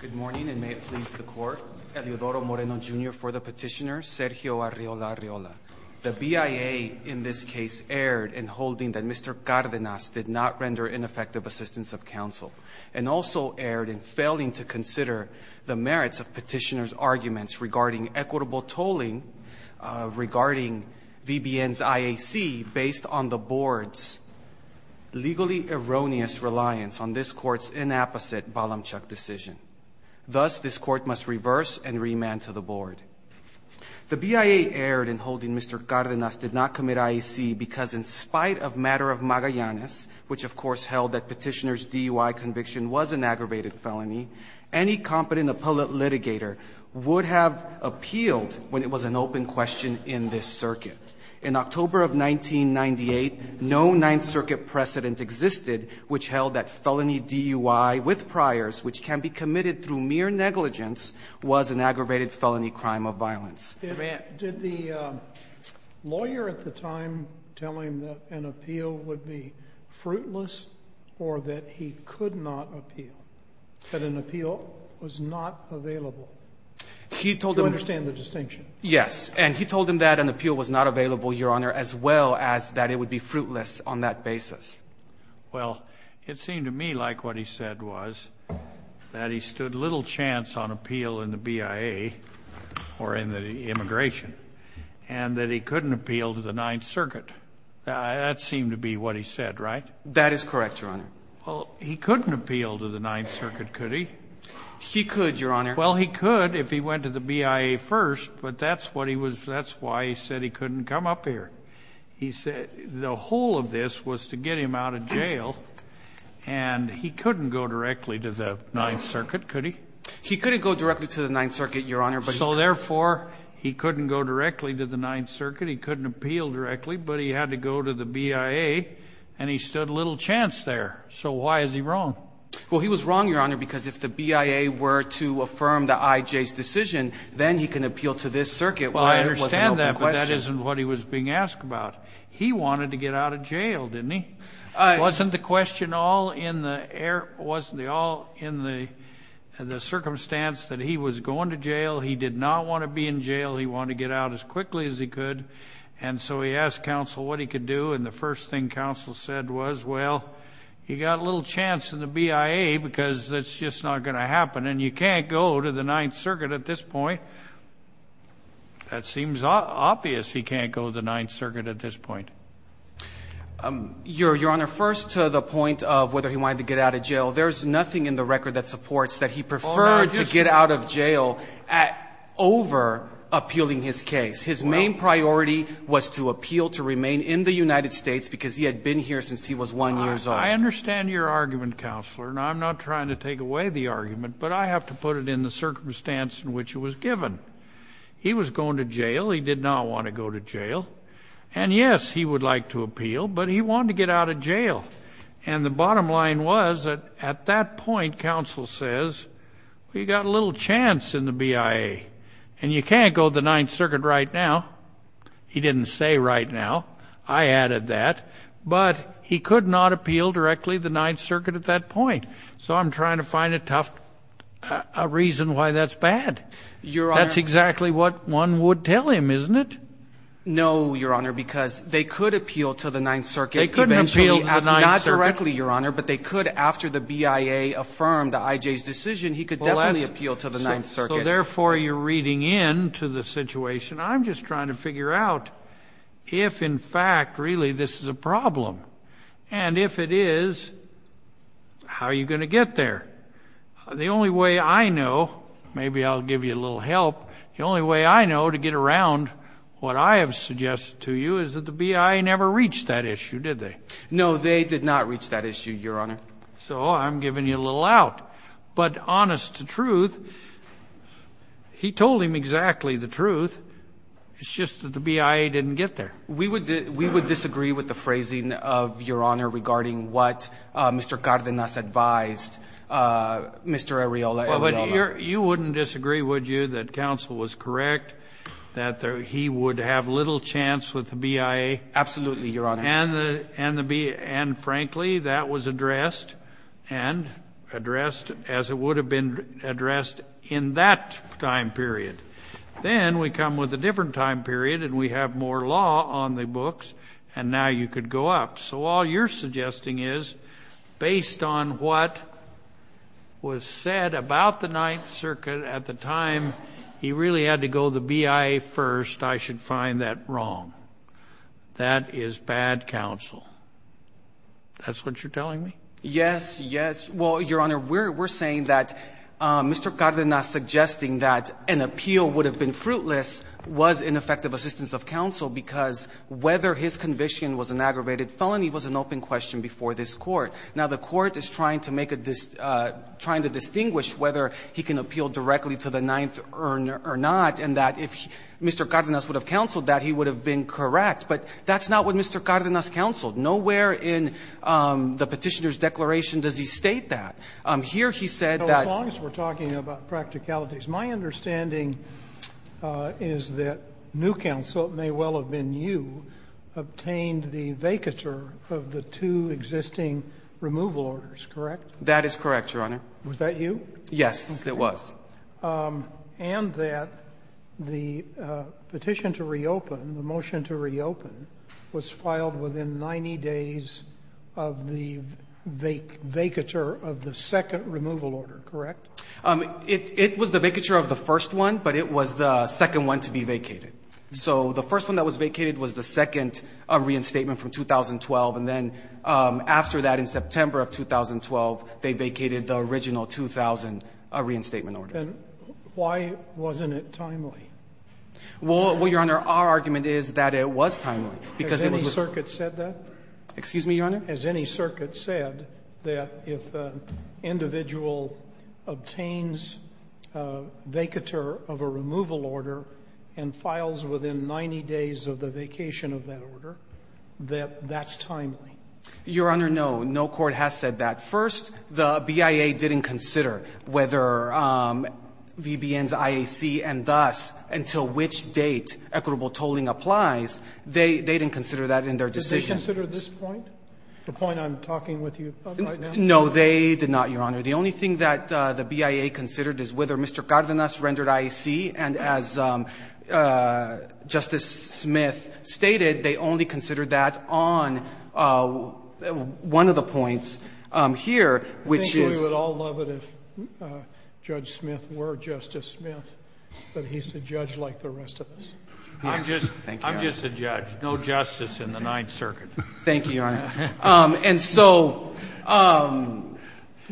Good morning and may it please the court. Eleodoro Moreno Jr. for the petitioner, Sergio Arreola-Arreola. The BIA in this case erred in holding that Mr. Cardenas did not render ineffective assistance of counsel and also erred in failing to consider the merits of petitioner's arguments regarding equitable tolling regarding VBN's IAC based on the board's legally erroneous reliance on this court's inapposite Balamchuk decision. Thus, this court must reverse and remand to the board. The BIA erred in holding Mr. Cardenas did not commit IAC because in spite of matter of Magallanes, which of course held that petitioner's DUI conviction was an aggravated felony, any competent appellate litigator would have appealed when it was an open question in this circuit. In October of 1998, no Ninth Circuit precedent existed which held that felony DUI with priors, which can be committed through mere negligence, was an aggravated felony crime of violence. Sotomayor, did the lawyer at the time tell him that an appeal would be fruitless or that he could not appeal, that an appeal was not available? Do you understand the distinction? Yes. And he told him that an appeal was not available, Your Honor, as well as that it would be fruitless on that basis. Well, it seemed to me like what he said was that he stood little chance on appeal in the BIA or in the immigration and that he couldn't appeal to the Ninth Circuit. That seemed to be what he said, right? That is correct, Your Honor. Well, he couldn't appeal to the Ninth Circuit, could he? He could, Your Honor. Well, he could if he went to the BIA first, but that's what he was – that's why he said he couldn't come up here. He said the whole of this was to get him out of jail, and he couldn't go directly to the Ninth Circuit, could he? He couldn't go directly to the Ninth Circuit, Your Honor, but he could. So therefore, he couldn't go directly to the Ninth Circuit, he couldn't appeal directly, but he had to go to the BIA, and he stood little chance there. So why is he wrong? Well, he was wrong, Your Honor, because if the BIA were to affirm the IJ's decision, then he can appeal to this circuit where it was an open question. Well, I understand that, but that isn't what he was being asked about. He wanted to get out of jail, didn't he? Wasn't the question all in the circumstance that he was going to jail? He did not want to be in jail. He wanted to get out as quickly as he could. And so he asked counsel what he could do, and the first thing counsel said was, well, you got a little chance in the BIA because that's just not going to happen, and you can't go to the Ninth Circuit at this point. That seems obvious, he can't go to the Ninth Circuit at this point. Your Honor, first to the point of whether he wanted to get out of jail, there's nothing in the record that supports that he preferred to get out of jail over appealing his case. His main priority was to appeal to remain in the United States because he had been here since he was 1 years old. I understand your argument, Counselor, and I'm not trying to take away the argument, but I have to put it in the circumstance in which it was given. He was going to jail. He did not want to go to jail. And, yes, he would like to appeal, but he wanted to get out of jail. And the bottom line was that at that point, counsel says, well, you got a little chance in the BIA, and you can't go to the Ninth Circuit right now. He didn't say right now. I added that. But he could not appeal directly to the Ninth Circuit at that point. So I'm trying to find a tough reason why that's bad. That's exactly what one would tell him, isn't it? No, Your Honor, because they could appeal to the Ninth Circuit. They couldn't appeal to the Ninth Circuit. Not directly, Your Honor, but they could after the BIA affirmed I.J.'s decision. He could definitely appeal to the Ninth Circuit. Well, therefore, you're reading in to the situation. I'm just trying to figure out if, in fact, really this is a problem. And if it is, how are you going to get there? The only way I know, maybe I'll give you a little help, the only way I know to get around what I have suggested to you is that the BIA never reached that issue, did they? No, they did not reach that issue, Your Honor. So I'm giving you a little out. But honest to truth, he told him exactly the truth. It's just that the BIA didn't get there. We would disagree with the phrasing of Your Honor regarding what Mr. Cárdenas advised Mr. Arriola. You wouldn't disagree, would you, that counsel was correct, that he would have little chance with the BIA? Absolutely, Your Honor. And, frankly, that was addressed, and addressed as it would have been addressed in that time period. Then we come with a different time period, and we have more law on the books, and now you could go up. So all you're suggesting is, based on what was said about the Ninth Circuit at the time, he really had to go the BIA first. I should find that wrong. That is bad counsel. That's what you're telling me? Yes, yes. Well, Your Honor, we're saying that Mr. Cárdenas suggesting that an appeal would have been fruitless was ineffective assistance of counsel, because whether his conviction was an aggravated felony was an open question before this Court. Now, the Court is trying to make a dis – trying to distinguish whether he can appeal directly to the Ninth or not, and that if Mr. Cárdenas would have counseled that, he would have been correct. But that's not what Mr. Cárdenas counseled. Nowhere in the Petitioner's declaration does he state that. Here he said that… As long as we're talking about practicalities, my understanding is that new counsel, it may well have been you, obtained the vacatur of the two existing removal orders, correct? That is correct, Your Honor. Was that you? Yes, it was. And that the petition to reopen, the motion to reopen, was filed within 90 days of the vacatur of the second removal order, correct? It was the vacatur of the first one, but it was the second one to be vacated. So the first one that was vacated was the second reinstatement from 2012, and then after that, in September of 2012, they vacated the original 2000 reinstatement order. And why wasn't it timely? Well, Your Honor, our argument is that it was timely, because it was the… Has any circuit said that? Excuse me, Your Honor? Has any circuit said that if an individual obtains a vacatur of a removal order and files within 90 days of the vacation of that order, that that's timely? Your Honor, no. No court has said that. First, the BIA didn't consider whether VBN's IAC and thus until which date equitable tolling applies, they didn't consider that in their decision. Did they consider this point, the point I'm talking with you about right now? No, they did not, Your Honor. The only thing that the BIA considered is whether Mr. Cardenas rendered IAC. And as Justice Smith stated, they only considered that on one of the points here, which is… I think we would all love it if Judge Smith were Justice Smith, but he's a judge like the rest of us. Yes. Thank you, Your Honor. I'm just a judge. No justice in the Ninth Circuit. Thank you, Your Honor. And so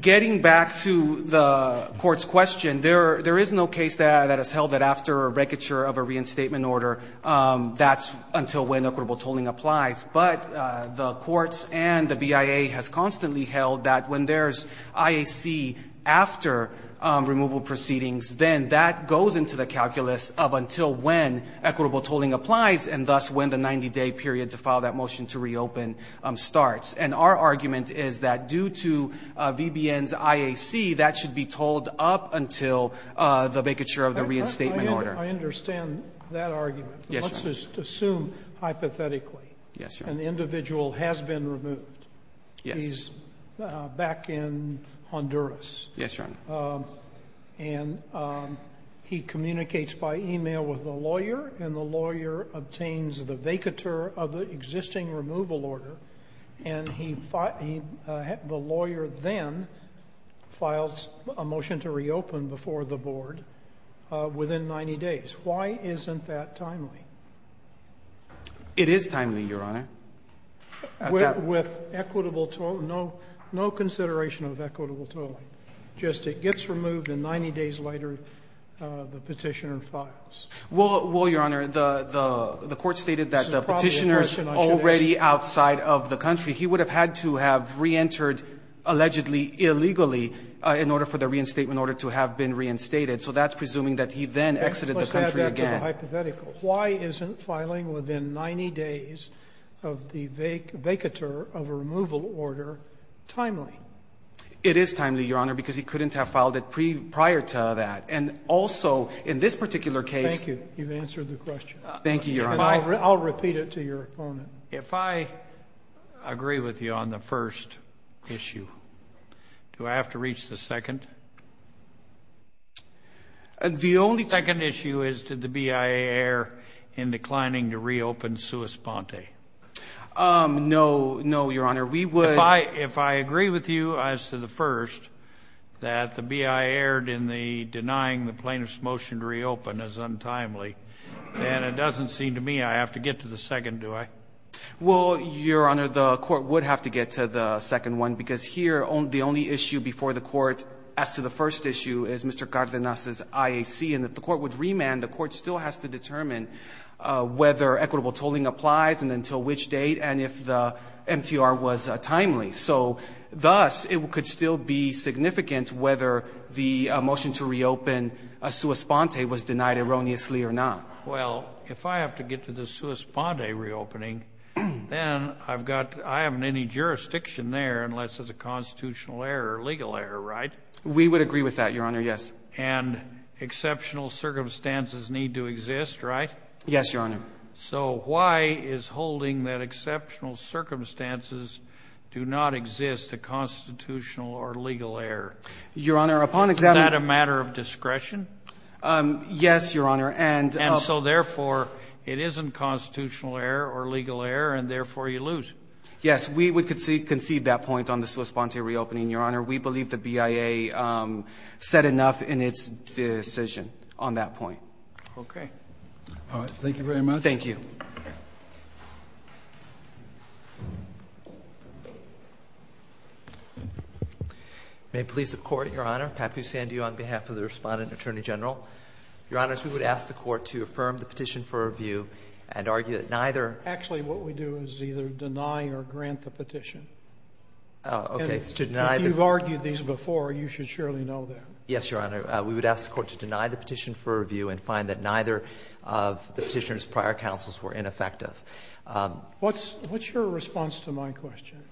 getting back to the court's question, there is no case that has held that after a vacatur of a reinstatement order, that's until when equitable tolling applies. But the courts and the BIA has constantly held that when there's IAC after removal proceedings, then that goes into the calculus of until when equitable tolling applies and thus when the 90-day period to file that motion to reopen starts. And our argument is that due to VBN's IAC, that should be tolled up until the vacatur of the reinstatement order. I understand that argument. Yes, Your Honor. Let's just assume hypothetically an individual has been removed. He's back in Honduras. Yes, Your Honor. And he communicates by e-mail with the lawyer, and the lawyer obtains the vacatur of the existing removal order, and the lawyer then files a motion to reopen before the board within 90 days. Why isn't that timely? It is timely, Your Honor. With equitable tolling? No consideration of equitable tolling. Just it gets removed, and 90 days later the Petitioner files. Well, Your Honor, the Court stated that the Petitioner's already outside of the country. He would have had to have reentered allegedly illegally in order for the reinstatement order to have been reinstated. So that's presuming that he then exited the country again. Let's have that hypothetical. Why isn't filing within 90 days of the vacatur of a removal order timely? It is timely, Your Honor. Because he couldn't have filed it prior to that. And also, in this particular case. Thank you. You've answered the question. Thank you, Your Honor. I'll repeat it to your opponent. If I agree with you on the first issue, do I have to reach the second? The only second issue is did the BIA err in declining to reopen Suis Ponte? No, Your Honor. If I agree with you as to the first, that the BIA erred in denying the plaintiff's motion to reopen as untimely, then it doesn't seem to me I have to get to the second, do I? Well, Your Honor, the Court would have to get to the second one. Because here the only issue before the Court as to the first issue is Mr. Cardenas' IAC. And if the Court would remand, the Court still has to determine whether equitable tolling applies and until which date. And if the MTR was timely. So, thus, it could still be significant whether the motion to reopen Suis Ponte was denied erroneously or not. Well, if I have to get to the Suis Ponte reopening, then I haven't any jurisdiction there unless it's a constitutional error or legal error, right? We would agree with that, Your Honor, yes. And exceptional circumstances need to exist, right? Yes, Your Honor. So why is holding that exceptional circumstances do not exist a constitutional or legal error? Your Honor, upon examination Is that a matter of discretion? Yes, Your Honor. And so, therefore, it isn't constitutional error or legal error and, therefore, you lose. Yes, we would concede that point on the Suis Ponte reopening, Your Honor. We believe the BIA said enough in its decision on that point. Okay. All right. Thank you very much. Thank you. May it please the Court, Your Honor. Happy to stand to you on behalf of the Respondent and Attorney General. Your Honors, we would ask the Court to affirm the petition for review and argue that neither. Actually, what we do is either deny or grant the petition. Okay. If you've argued these before, you should surely know that. Yes, Your Honor. We would ask the Court to deny the petition for review and find that neither of the Petitioner's prior counsels were ineffective. What's your response to my question?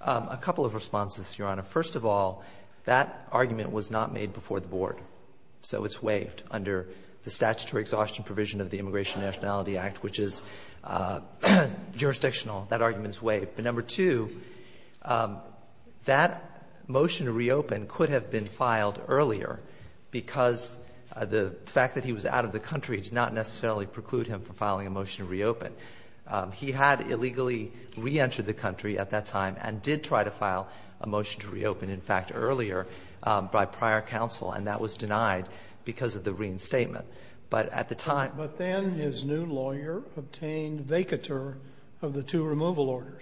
A couple of responses, Your Honor. First of all, that argument was not made before the Board, so it's waived under the statutory exhaustion provision of the Immigration and Nationality Act, which is jurisdictional. That argument is waived. But, number two, that motion to reopen could have been filed earlier because the fact that he was out of the country does not necessarily preclude him from filing a motion to reopen. He had illegally reentered the country at that time and did try to file a motion to reopen, in fact, earlier by prior counsel, and that was denied because of the reinstatement. But at the time he did not.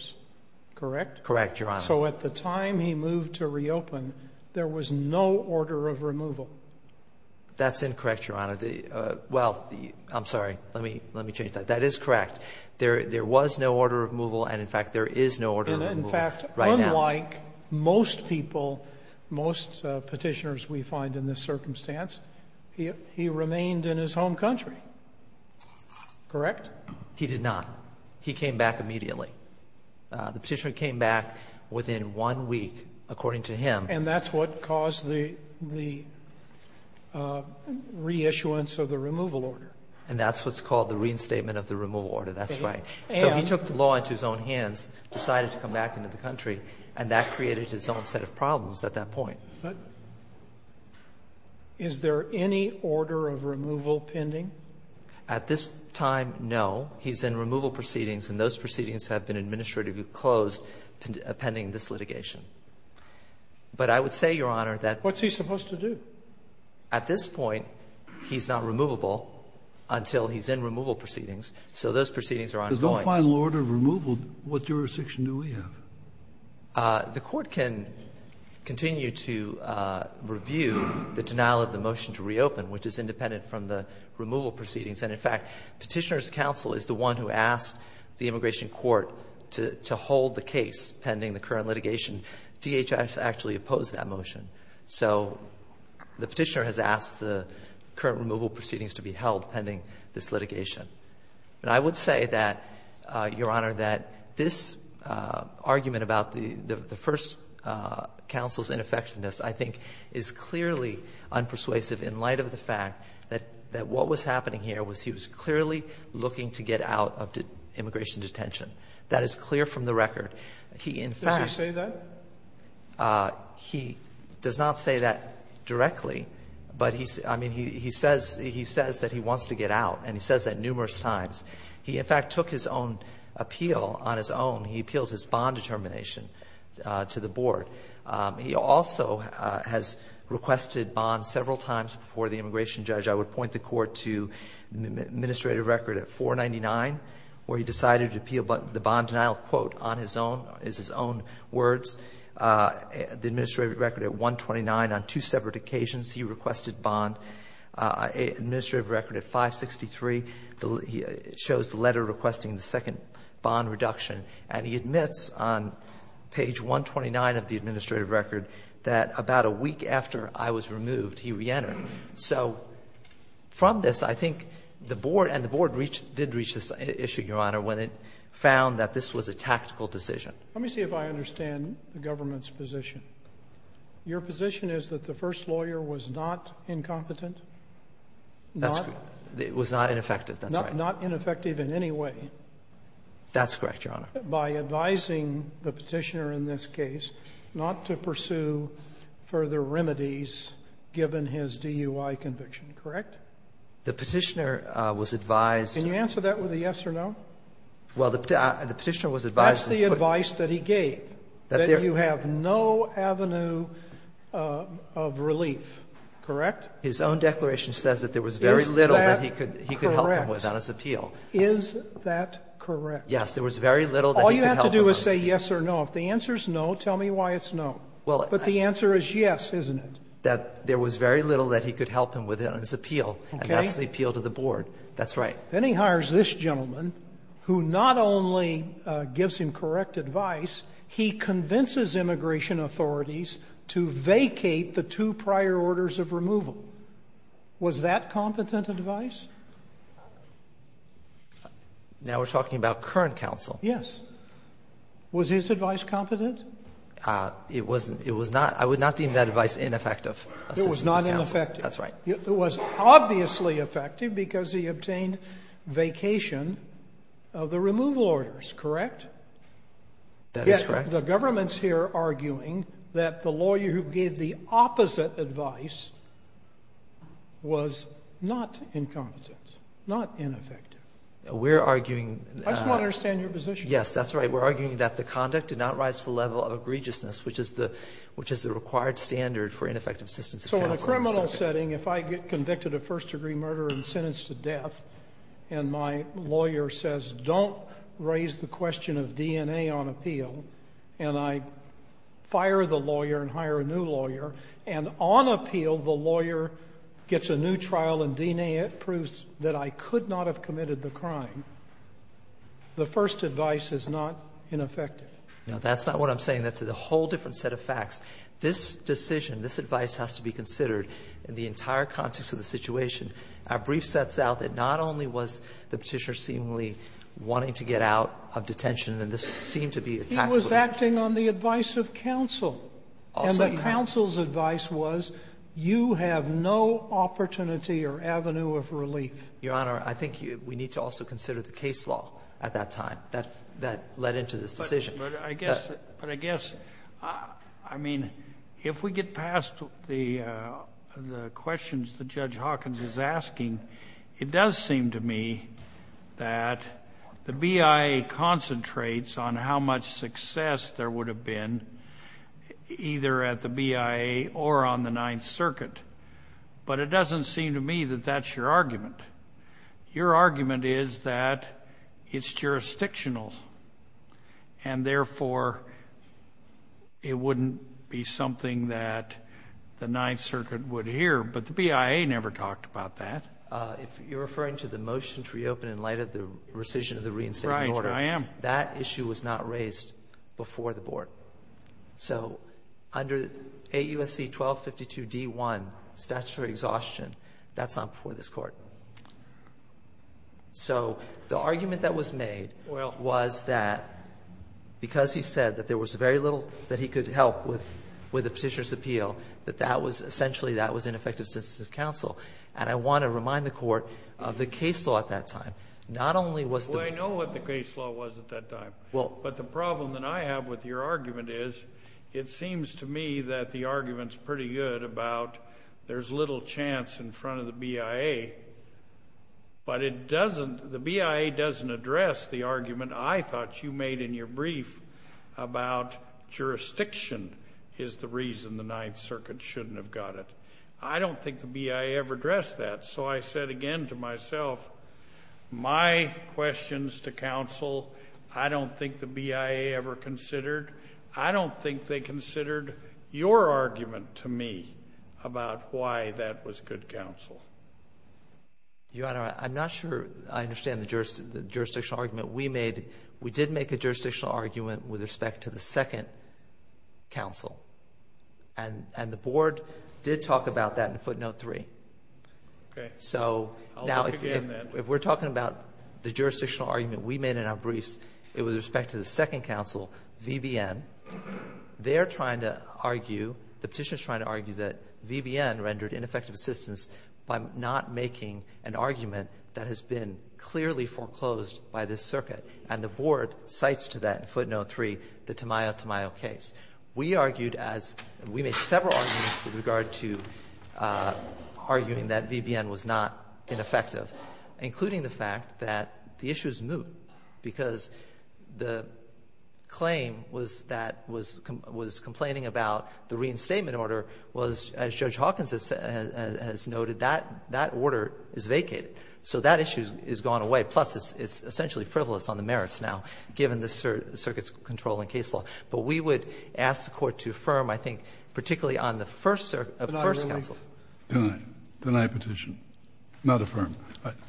Correct? Correct, Your Honor. So at the time he moved to reopen, there was no order of removal. That's incorrect, Your Honor. Well, I'm sorry. Let me change that. That is correct. There was no order of removal and, in fact, there is no order of removal right now. And, in fact, unlike most people, most Petitioners we find in this circumstance, he remained in his home country, correct? He did not. He came back immediately. The Petitioner came back within one week, according to him. And that's what caused the reissuance of the removal order. And that's what's called the reinstatement of the removal order. That's right. So he took the law into his own hands, decided to come back into the country, and that created his own set of problems at that point. But is there any order of removal pending? At this time, no. He's in removal proceedings, and those proceedings have been administratively closed pending this litigation. But I would say, Your Honor, that at this point he's not removable until he's in removal proceedings. So those proceedings are ongoing. If there's no final order of removal, what jurisdiction do we have? The Court can continue to review the denial of the motion to reopen, which is independent from the removal proceedings. And, in fact, Petitioner's counsel is the one who asked the immigration court to hold the case pending the current litigation. DHS actually opposed that motion. So the Petitioner has asked the current removal proceedings to be held pending this litigation. And I would say that, Your Honor, that this argument about the first counsel's ineffectiveness, I think, is clearly unpersuasive in light of the fact that what was happening here was he was clearly looking to get out of immigration detention. That is clear from the record. He, in fact --" Sotomayor, does he say that? He does not say that directly, but he says that he wants to get out, and he says that numerous times. He, in fact, took his own appeal on his own. He appealed his bond determination to the board. He also has requested bonds several times before the immigration judge. I would point the Court to the administrative record at 499, where he decided to appeal the bond denial, quote, on his own, is his own words. The administrative record at 129, on two separate occasions he requested bond. Administrative record at 563 shows the letter requesting the second bond reduction. And he admits on page 129 of the administrative record that about a week after I was removed, he reentered. So from this, I think the board, and the board did reach this issue, Your Honor, when it found that this was a tactical decision. Let me see if I understand the government's position. Your position is that the first lawyer was not incompetent? That's correct. It was not ineffective. That's right. Not ineffective in any way. That's correct, Your Honor. By advising the Petitioner in this case not to pursue further remedies given his DUI conviction, correct? The Petitioner was advised to. Can you answer that with a yes or no? Well, the Petitioner was advised to. That's the advice that he gave, that you have no avenue of relief, correct? His own declaration says that there was very little that he could help him with on his appeal. Is that correct? Yes, there was very little that he could help him with. All you have to do is say yes or no. If the answer is no, tell me why it's no. But the answer is yes, isn't it? That there was very little that he could help him with on his appeal. Okay. And that's the appeal to the board. That's right. Then he hires this gentleman, who not only gives him correct advice, he convinces immigration authorities to vacate the two prior orders of removal. Was that competent advice? Now we're talking about current counsel. Yes. Was his advice competent? It wasn't. It was not. I would not deem that advice ineffective. It was not ineffective. That's right. It was obviously effective because he obtained vacation of the removal orders, correct? That is correct. Yet the government's here arguing that the lawyer who gave the opposite advice was not incompetent, not ineffective. We're arguing. I just want to understand your position. Yes, that's right. We're arguing that the conduct did not rise to the level of egregiousness, which is the required standard for ineffective assistance of counsel. So in a criminal setting, if I get convicted of first-degree murder and sentenced to death, and my lawyer says don't raise the question of DNA on appeal, and I fire the lawyer and hire a new lawyer, and on appeal the lawyer gets a new trial and DNA proves that I could not have committed the crime, the first advice is not ineffective? No, that's not what I'm saying. That's a whole different set of facts. This decision, this advice has to be considered in the entire context of the situation. Our brief sets out that not only was the Petitioner seemingly wanting to get out of detention, and this seemed to be a tactical issue. It was acting on the advice of counsel. And the counsel's advice was you have no opportunity or avenue of relief. Your Honor, I think we need to also consider the case law at that time that led into this decision. But I guess, I mean, if we get past the questions that Judge Hawkins is asking, it does seem to me that the BIA concentrates on how much success there would have been either at the BIA or on the Ninth Circuit. But it doesn't seem to me that that's your argument. Your argument is that it's jurisdictional, and therefore it wouldn't be something that the Ninth Circuit would hear. But the BIA never talked about that. If you're referring to the motion to reopen in light of the rescission of the reinstatement order. Right. I am. That issue was not raised before the Board. So under AUSC 1252d-1, statutory exhaustion, that's not before this Court. So the argument that was made was that because he said that there was very little that he could help with the Petitioner's Appeal, that that was essentially that was ineffective sensitive counsel. And I want to remind the Court of the case law at that time. Not only was the ---- Well, I know what the case law was at that time. Well. But the problem that I have with your argument is it seems to me that the argument is pretty good about there's little chance in front of the BIA. But it doesn't the BIA doesn't address the argument I thought you made in your brief about jurisdiction is the reason the Ninth Circuit shouldn't have got it. I don't think the BIA ever addressed that. So I said again to myself, my questions to counsel I don't think the BIA ever considered. I don't think they considered your argument to me about why that was good counsel. Your Honor, I'm not sure I understand the jurisdictional argument we made. We did make a jurisdictional argument with respect to the second counsel. And the Board did talk about that in Footnote 3. Okay. So now if we're talking about the jurisdictional argument we made in our briefs, it was with respect to the second counsel, VBN. They're trying to argue, the Petitioner's trying to argue that VBN rendered ineffective assistance by not making an argument that has been clearly foreclosed by this circuit. And the Board cites to that in Footnote 3 the Tamayo-Tamayo case. We argued as we made several arguments with regard to arguing that VBN was not ineffective, including the fact that the issue is moot because the claim was that was complaining about the reinstatement order was, as Judge Hawkins has noted, that order is vacated. So that issue has gone away. Plus, it's essentially frivolous on the merits now, given the circuit's control in case law. But we would ask the Court to affirm, I think, particularly on the first counsel. Kennedy, then I petition, not affirm.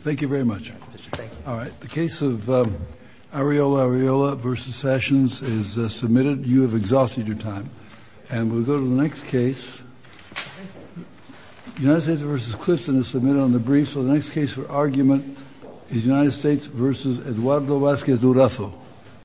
Thank you very much. All right. The case of Areola-Areola v. Sessions is submitted. You have exhausted your time. And we'll go to the next case. United States v. Clifton is submitted on the brief. So the next case for argument is United States v. Eduardo Vazquez-Durazo.